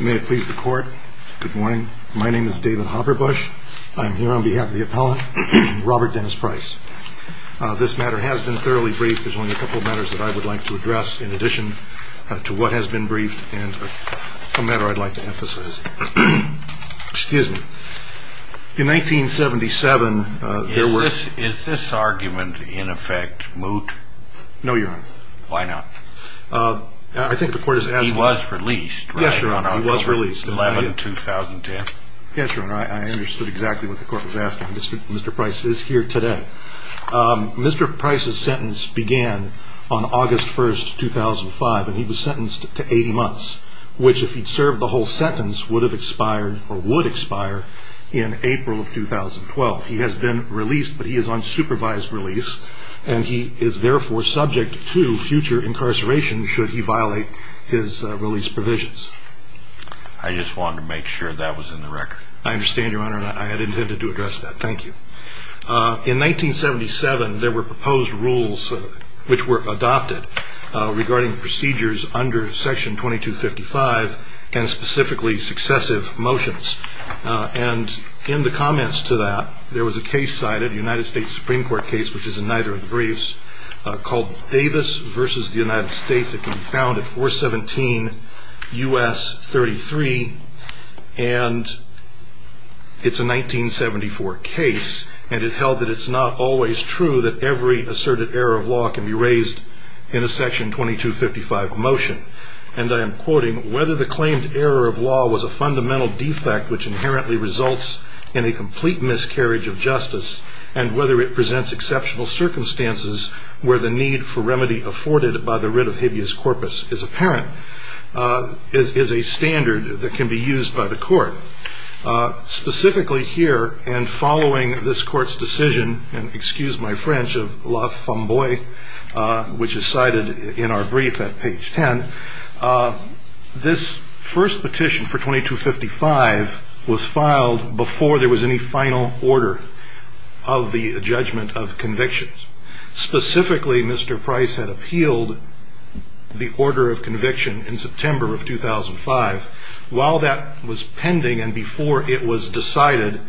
May it please the court. Good morning. My name is David Hopperbush. I'm here on behalf of the appellant, Robert Dennis Pryce. This matter has been thoroughly briefed. There's only a couple of matters that I would like to address in addition to what has been briefed and a matter I'd like to emphasize. Excuse me. In 1977, there were... Is this argument in effect moot? No, Your Honor. Why not? I think the court has asked... He was released, right? Yes, Your Honor. On October 11, 2010. Yes, Your Honor. I understood exactly what the court was asking. Mr. Pryce is here today. Mr. Pryce's sentence began on August 1, 2005, and he was sentenced to 80 months, which, if he'd served the whole sentence, would have expired or would expire in April of 2012. He has been released, but he is on supervised release, and he is therefore subject to future incarceration should he violate his release provisions. I just wanted to make sure that was in the record. I understand, Your Honor, and I had intended to address that. Thank you. In 1977, there were proposed rules which were adopted regarding procedures under Section 2255 and specifically successive motions. And in the comments to that, there was a case cited, a United States Supreme Court case, which is in neither of the briefs, called Davis v. The United States. It was found at 417 U.S. 33, and it's a 1974 case, and it held that it's not always true that every asserted error of law can be raised in a Section 2255 motion. And I am quoting, whether the claimed error of law was a fundamental defect which inherently results in a complete miscarriage of justice, and whether it presents exceptional circumstances where the need for remedy afforded by the writ of habeas corpus is apparent, is a standard that can be used by the court. Specifically here, and following this court's decision, and excuse my French of La Femme Boye, which is cited in our brief at page 10, this first petition for 2255 was filed before there was any final order of the judgment of convictions. Specifically, Mr. Price had appealed the order of conviction in September of 2005. While that was pending and before it was decided,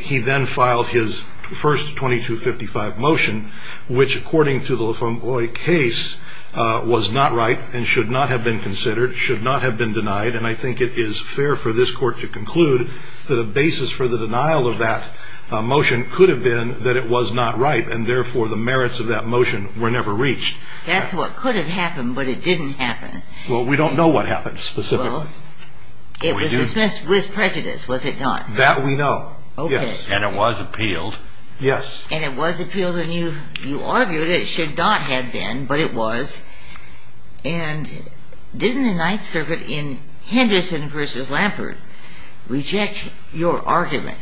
he then filed his first 2255 motion, which, according to the La Femme Boye case, was not right and should not have been considered, should not have been denied. And I think it is fair for this court to conclude that a basis for the denial of that motion could have been that it was not right, and therefore the merits of that motion were never reached. That's what could have happened, but it didn't happen. Well, we don't know what happened specifically. Well, it was dismissed with prejudice, was it not? That we know. Okay. Yes, and it was appealed. Yes. And it was appealed, and you argued it should not have been, but it was. And didn't the Ninth Circuit in Henderson v. Lampert reject your argument?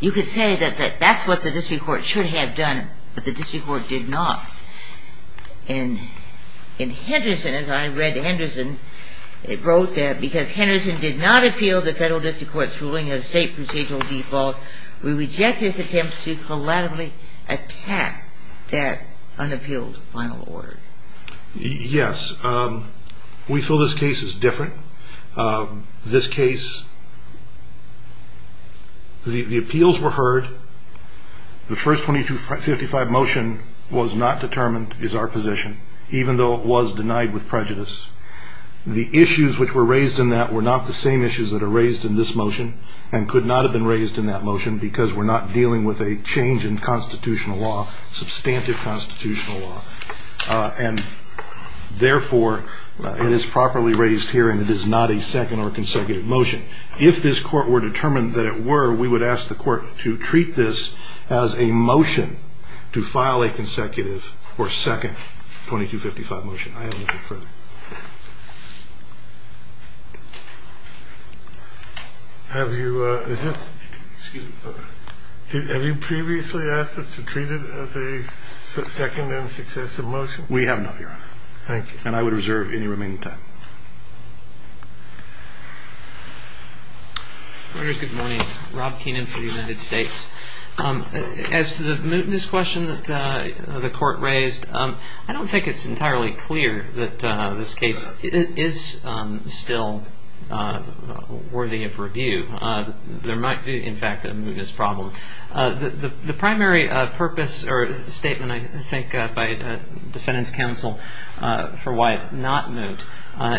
You could say that that's what the district court should have done, but the district court did not. And in Henderson, as I read Henderson, it wrote that, because Henderson did not appeal the federal district court's ruling of state procedural default, we reject his attempt to collaterally attack that unappealed final order. Yes. We feel this case is different. This case, the appeals were heard. The first 2255 motion was not determined as our position, even though it was denied with prejudice. The issues which were raised in that were not the same issues that are raised in this motion and could not have been raised in that motion because we're not dealing with a change in constitutional law, substantive constitutional law. And therefore, it is properly raised here, and it is not a second or consecutive motion. If this court were determined that it were, we would ask the court to treat this as a motion to file a consecutive or second 2255 motion. I haven't looked at it further. Have you previously asked us to treat it as a second and successive motion? We have not, Your Honor. Thank you. And I would reserve any remaining time. Good morning. Rob Keenan for the United States. As to the mootness question that the court raised, I don't think it's entirely clear that this case is still worthy of review. There might be, in fact, a mootness problem. The primary purpose or statement I think by defendant's counsel for why it's not moot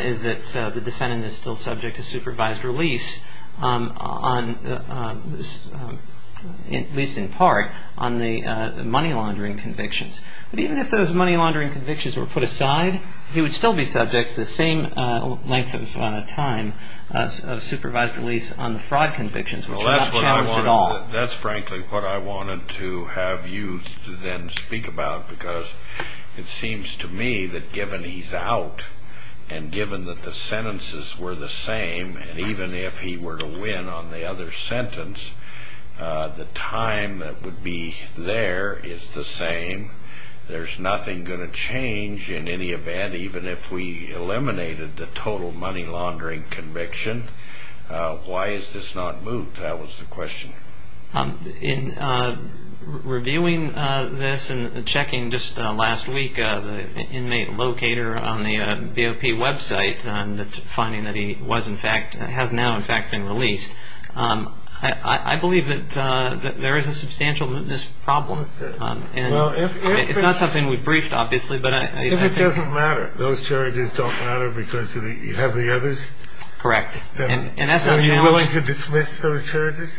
is that the defendant is still subject to supervised release, at least in part, on the money laundering convictions. But even if those money laundering convictions were put aside, he would still be subject to the same length of time of supervised release on the fraud convictions, That's frankly what I wanted to have you then speak about, because it seems to me that given he's out and given that the sentences were the same, and even if he were to win on the other sentence, the time that would be there is the same. There's nothing going to change in any event, even if we eliminated the total money laundering conviction. Why is this not moot? That was the question. In reviewing this and checking just last week the inmate locator on the BOP website, and finding that he has now in fact been released, I believe that there is a substantial mootness problem. It's not something we've briefed, obviously, but I think If it doesn't matter, those charges don't matter because you have the others? Correct. Are you willing to dismiss those charges?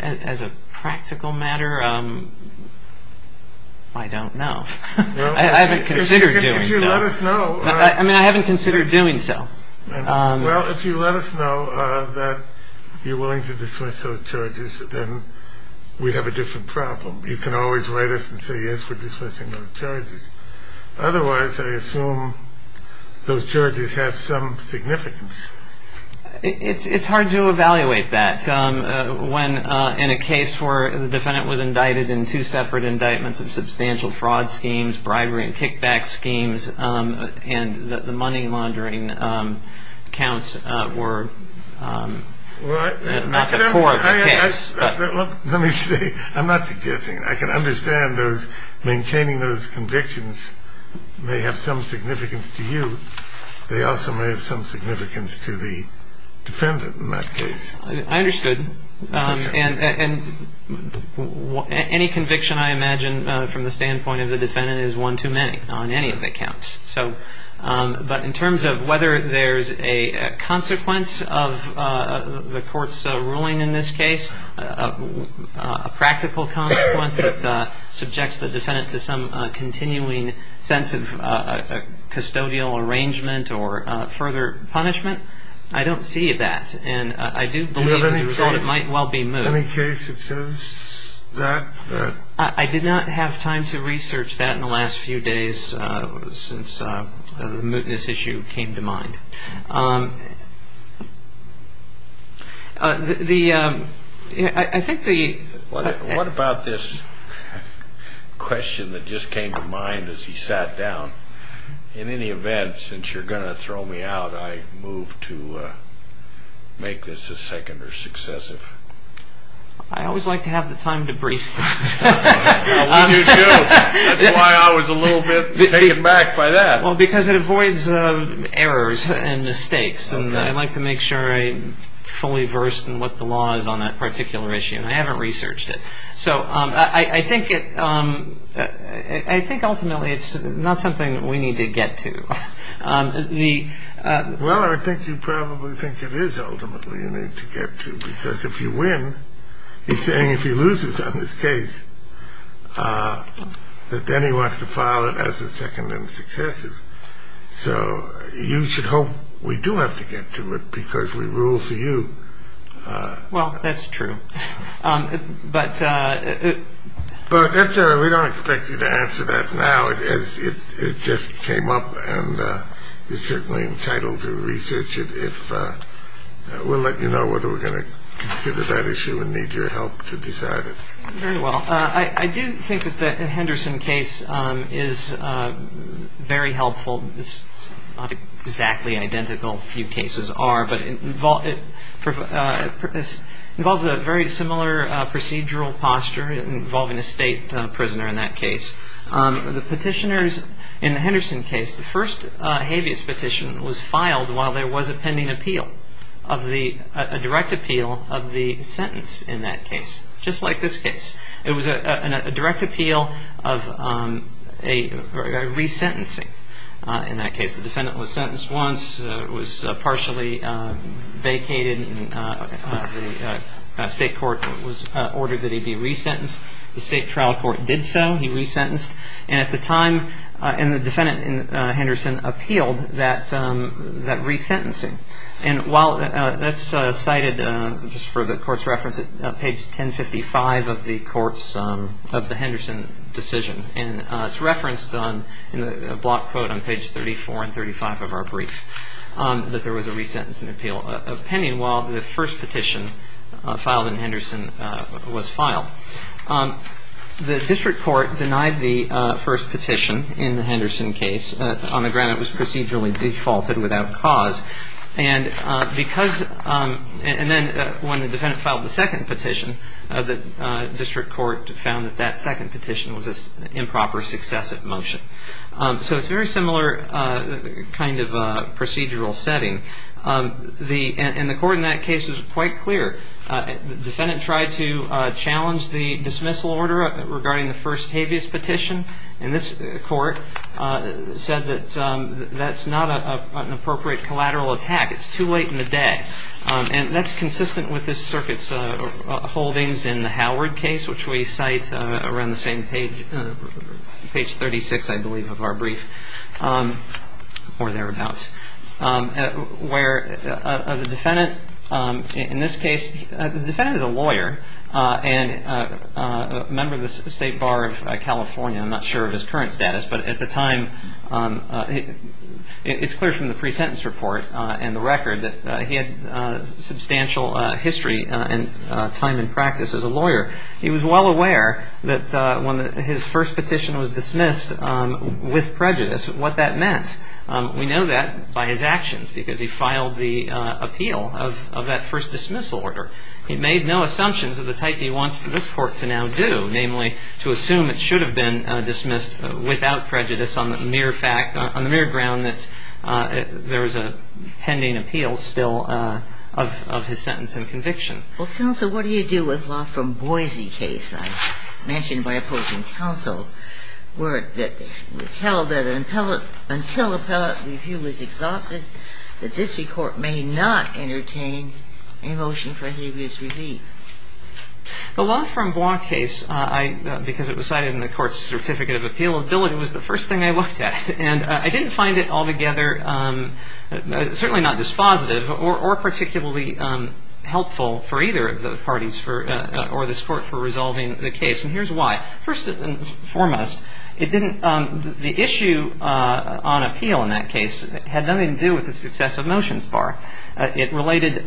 As a practical matter, I don't know. I haven't considered doing so. If you let us know. I mean, I haven't considered doing so. Well, if you let us know that you're willing to dismiss those charges, then we'd have a different problem. You can always write us and say, yes, we're dismissing those charges. Otherwise, I assume those charges have some significance. It's hard to evaluate that. When in a case where the defendant was indicted in two separate indictments of substantial fraud schemes, bribery and kickback schemes, and the money laundering counts were not the core of the case. Let me see. I'm not suggesting I can understand those. Maintaining those convictions may have some significance to you. They also may have some significance to the defendant in that case. I understood. And any conviction, I imagine, from the standpoint of the defendant is one too many on any of the accounts. But in terms of whether there's a consequence of the court's ruling in this case, a practical consequence that subjects the defendant to some continuing sense of custodial arrangement or further punishment, I don't see that. And I do believe it might well be moved. Any case that says that? I did not have time to research that in the last few days since the mootness issue came to mind. What about this question that just came to mind as he sat down? In any event, since you're going to throw me out, I move to make this a second or successive. I always like to have the time to brief. We do too. That's why I was a little bit taken back by that. Well, because it avoids errors and mistakes. And I like to make sure I'm fully versed in what the law is on that particular issue. And I haven't researched it. So I think ultimately it's not something that we need to get to. Well, I think you probably think it is ultimately you need to get to, because if you win, he's saying if he loses on this case that then he wants to file it as a second and successive. So you should hope we do have to get to it because we rule for you. Well, that's true. But we don't expect you to answer that now. It just came up. And you're certainly entitled to research it if we'll let you know whether we're going to consider that issue and need your help to decide it. Very well. I do think that the Henderson case is very helpful. It's not exactly identical. A few cases are, but it involves a very similar procedural posture involving a state prisoner in that case. The petitioners in the Henderson case, the first habeas petition was filed while there was a pending appeal, a direct appeal of the sentence in that case, just like this case. It was a direct appeal of a resentencing in that case. The defendant was sentenced once, was partially vacated, and the state court ordered that he be resentenced. The state trial court did so. He resentenced. And at the time, the defendant in Henderson appealed that resentencing. And while that's cited just for the court's reference at page 1055 of the Henderson decision, and it's referenced in the block quote on page 34 and 35 of our brief, that there was a resentencing appeal pending while the first petition filed in Henderson was filed. The district court denied the first petition in the Henderson case on the ground it was procedurally defaulted without cause. And because – and then when the defendant filed the second petition, the district court found that that second petition was an improper successive motion. So it's a very similar kind of procedural setting. And the court in that case was quite clear. The defendant tried to challenge the dismissal order regarding the first habeas petition. And this court said that that's not an appropriate collateral attack. It's too late in the day. And that's consistent with this circuit's holdings in the Howard case, which we cite around the same page, page 36, I believe, of our brief, or thereabouts, where the defendant in this case – the defendant is a lawyer and a member of the State Bar of California. I'm not sure of his current status. But at the time, it's clear from the pre-sentence report and the record that he had substantial history and time in practice as a lawyer. He was well aware that when his first petition was dismissed with prejudice, what that meant. We know that by his actions because he filed the appeal of that first dismissal order. He made no assumptions of the type he wants this court to now do, namely to assume it should have been dismissed without prejudice on the mere fact – on the mere ground that there was a pending appeal still of his sentence and conviction. Well, counsel, what do you do with law from Boise case? I mentioned by opposing counsel word that it was held that until appellate review was exhausted, that this court may not entertain a motion for habeas relief. The law from Boise case, I – because it was cited in the court's certificate of appeal, ability was the first thing I looked at. And I didn't find it altogether – certainly not dispositive or particularly helpful for either of the parties for – or this court for resolving the case. And here's why. First and foremost, it didn't – the issue on appeal in that case had nothing to do with the success of motions bar. It related –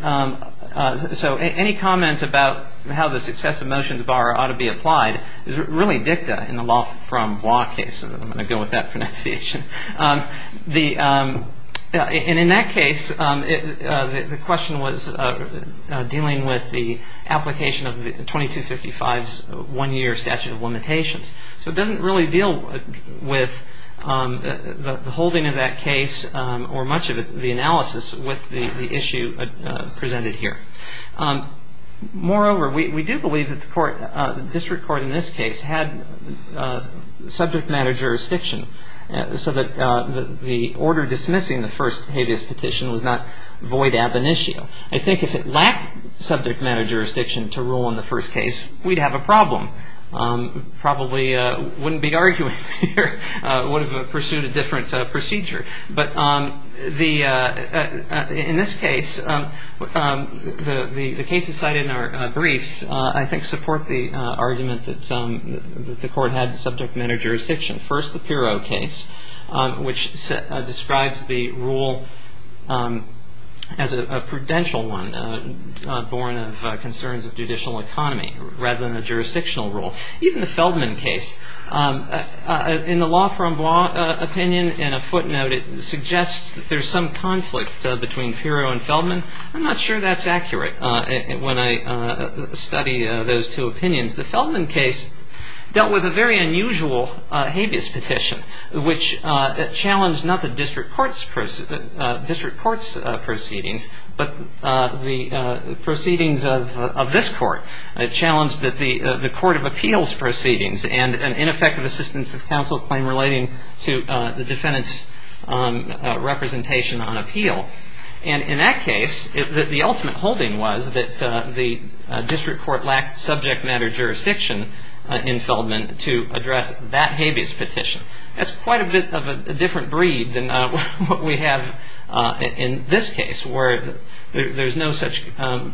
so any comment about how the success of motions bar ought to be applied is really dicta in the law from Boise case. I'm going to go with that pronunciation. The – and in that case, the question was dealing with the application of 2255's one-year statute of limitations. So it doesn't really deal with the holding of that case or much of the analysis with the issue presented here. Moreover, we do believe that the court – the district court in this case had subject matter jurisdiction so that the order dismissing the first habeas petition was not void ab initio. I think if it lacked subject matter jurisdiction to rule in the first case, we'd have a problem. Probably wouldn't be arguing here. Would have pursued a different procedure. But the – in this case, the cases cited in our briefs I think support the argument that the court had subject matter jurisdiction. First, the Pirro case, which describes the rule as a prudential one, born of concerns of judicial economy rather than a jurisdictional rule. Even the Feldman case, in the law from Boise opinion, in a footnote, it suggests that there's some conflict between Pirro and Feldman. I'm not sure that's accurate when I study those two opinions. The Feldman case dealt with a very unusual habeas petition, which challenged not the district court's proceedings, but the proceedings of this court. It challenged the court of appeals proceedings and ineffective assistance of counsel claim relating to the defendant's representation on appeal. And in that case, the ultimate holding was that the district court lacked subject matter jurisdiction in Feldman to address that habeas petition. That's quite a bit of a different breed than what we have in this case, where there's no such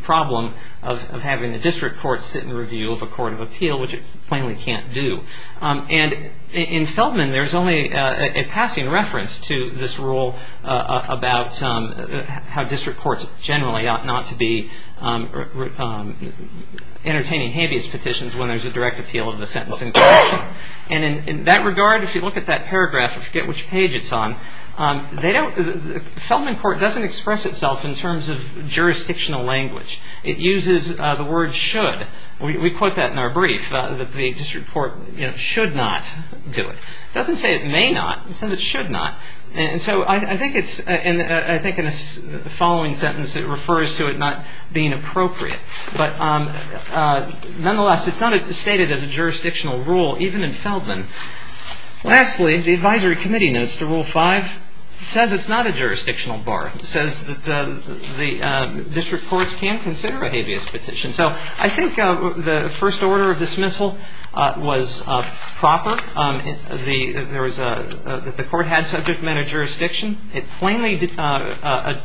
problem of having the district court sit in review of a court of appeal, which it plainly can't do. And in Feldman, there's only a passing reference to this rule about how district courts generally ought not to be entertaining habeas petitions when there's a direct appeal of the sentencing petition. And in that regard, if you look at that paragraph, I forget which page it's on, Feldman court doesn't express itself in terms of jurisdictional language. It uses the word should. We quote that in our brief, that the district court should not do it. It doesn't say it may not. It says it should not. And so I think in the following sentence, it refers to it not being appropriate. But nonetheless, it's not stated as a jurisdictional rule, even in Feldman. Lastly, the advisory committee notes to Rule 5, it says it's not a jurisdictional bar. It says that the district courts can consider a habeas petition. So I think the first order of dismissal was proper. The court had subject matter jurisdiction. It plainly denied,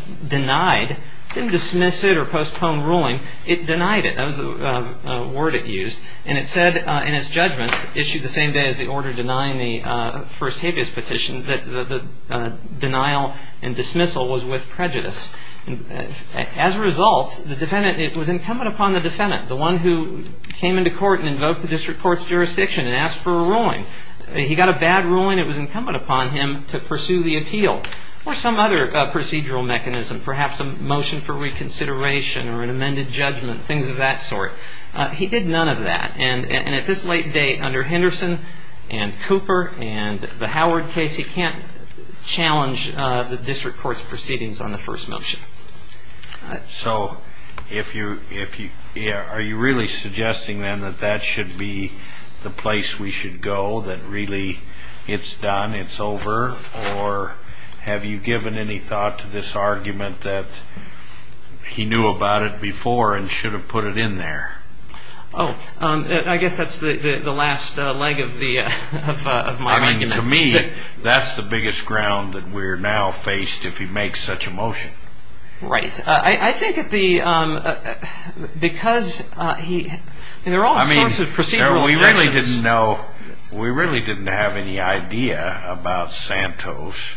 didn't dismiss it or postpone ruling. It denied it. That was the word it used. And it said in its judgment, issued the same day as the order denying the first habeas petition, that the denial and dismissal was with prejudice. As a result, the defendant, it was incumbent upon the defendant, the one who came into court and invoked the district court's jurisdiction and asked for a ruling. He got a bad ruling. It was incumbent upon him to pursue the appeal or some other procedural mechanism, perhaps a motion for reconsideration or an amended judgment, things of that sort. He did none of that. And at this late date, under Henderson and Cooper and the Howard case, he can't challenge the district court's proceedings on the first motion. So are you really suggesting then that that should be the place we should go, that really it's done, it's over? Or have you given any thought to this argument that he knew about it before and should have put it in there? Oh, I guess that's the last leg of my argument. I mean, to me, that's the biggest ground that we're now faced if he makes such a motion. Right. I think because he – there are all sorts of procedural questions. No, we really didn't know. We really didn't have any idea about Santos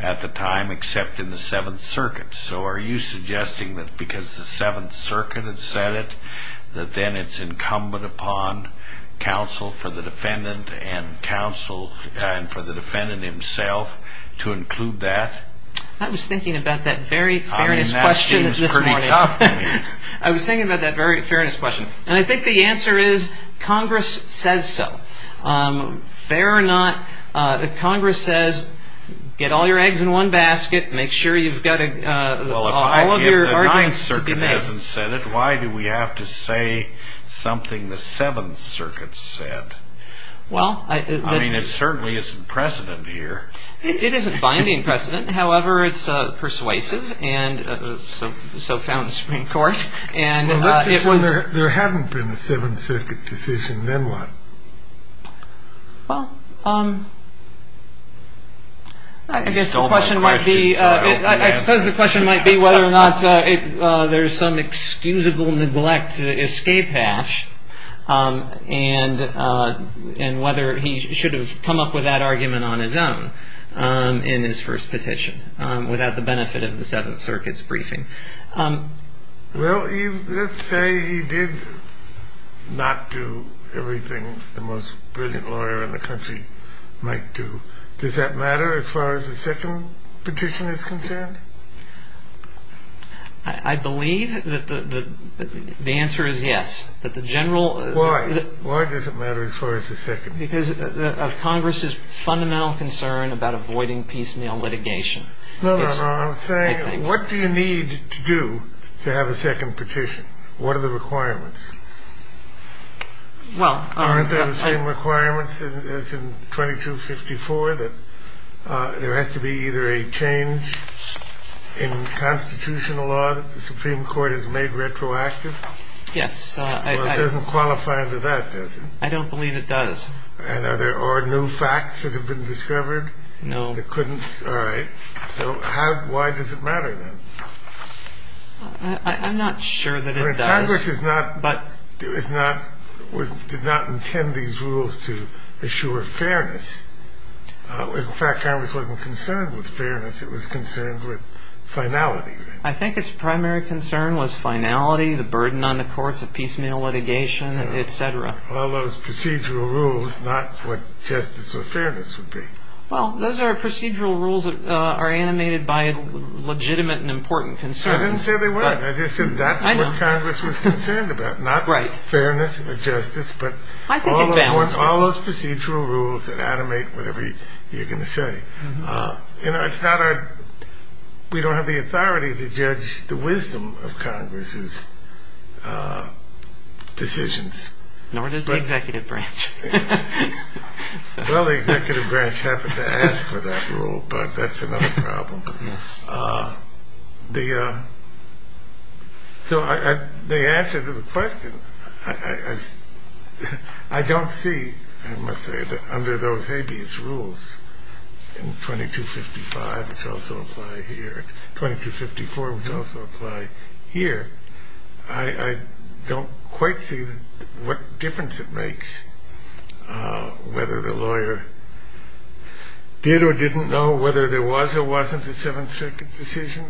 at the time except in the Seventh Circuit. So are you suggesting that because the Seventh Circuit had said it, that then it's incumbent upon counsel for the defendant and counsel for the defendant himself to include that? I was thinking about that very fairness question this morning. I mean, that seems pretty tough. I was thinking about that very fairness question. And I think the answer is Congress says so. Fair or not, Congress says get all your eggs in one basket, make sure you've got all of your arguments to be made. Well, if the Ninth Circuit hasn't said it, why do we have to say something the Seventh Circuit said? Well, I – I mean, it certainly isn't precedent here. It isn't binding precedent. However, it's persuasive and so found the Supreme Court. And it was – Well, let's assume there haven't been a Seventh Circuit decision. Then what? Well, I guess the question might be – I suppose the question might be whether or not there's some excusable neglect to escape hash and whether he should have come up with that argument on his own in his first petition without the benefit of the Seventh Circuit's briefing. Well, let's say he did not do everything the most brilliant lawyer in the country might do. Does that matter as far as the second petition is concerned? I believe that the answer is yes, that the general – Why? Why does it matter as far as the second? Because of Congress's fundamental concern about avoiding piecemeal litigation. No, no, no. I'm saying what do you need to do to have a second petition? What are the requirements? Well, I – Aren't there the same requirements as in 2254 that there has to be either a change in constitutional law that the Supreme Court has made retroactive? Yes. Well, it doesn't qualify under that, does it? I don't believe it does. And are there – or new facts that have been discovered? No. And it couldn't – all right. So how – why does it matter, then? I'm not sure that it does. Congress is not – did not intend these rules to assure fairness. In fact, Congress wasn't concerned with fairness. It was concerned with finality. I think its primary concern was finality, the burden on the courts of piecemeal litigation, et cetera. Well, those procedural rules, not what justice or fairness would be. Well, those are procedural rules that are animated by legitimate and important concerns. I didn't say they weren't. I just said that's what Congress was concerned about. Not fairness or justice, but all those procedural rules that animate whatever you're going to say. You know, it's not our – we don't have the authority to judge the wisdom of Congress's decisions. Nor does the executive branch. Well, the executive branch happened to ask for that rule, but that's another problem. Yes. The – so the answer to the question, I don't see, I must say, that under those habeas rules in 2255, which also apply here, 2254, which also apply here, I don't quite see what difference it makes whether the lawyer did or didn't know whether there was or wasn't a Seventh Circuit decision.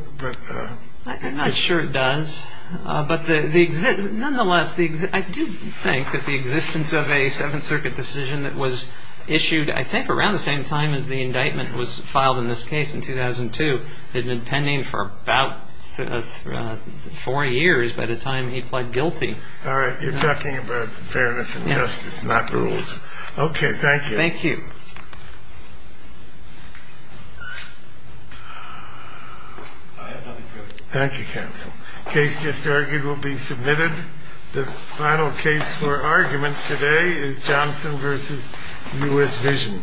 I'm not sure it does. But the – nonetheless, I do think that the existence of a Seventh Circuit decision that was issued I think around the same time as the indictment was filed in this case in 2002 had been pending for about four years by the time he pled guilty. All right. You're talking about fairness and justice, not rules. Okay. Thank you. Thank you. Thank you, counsel. Case just argued will be submitted. The final case for argument today is Johnson v. U.S. Vision.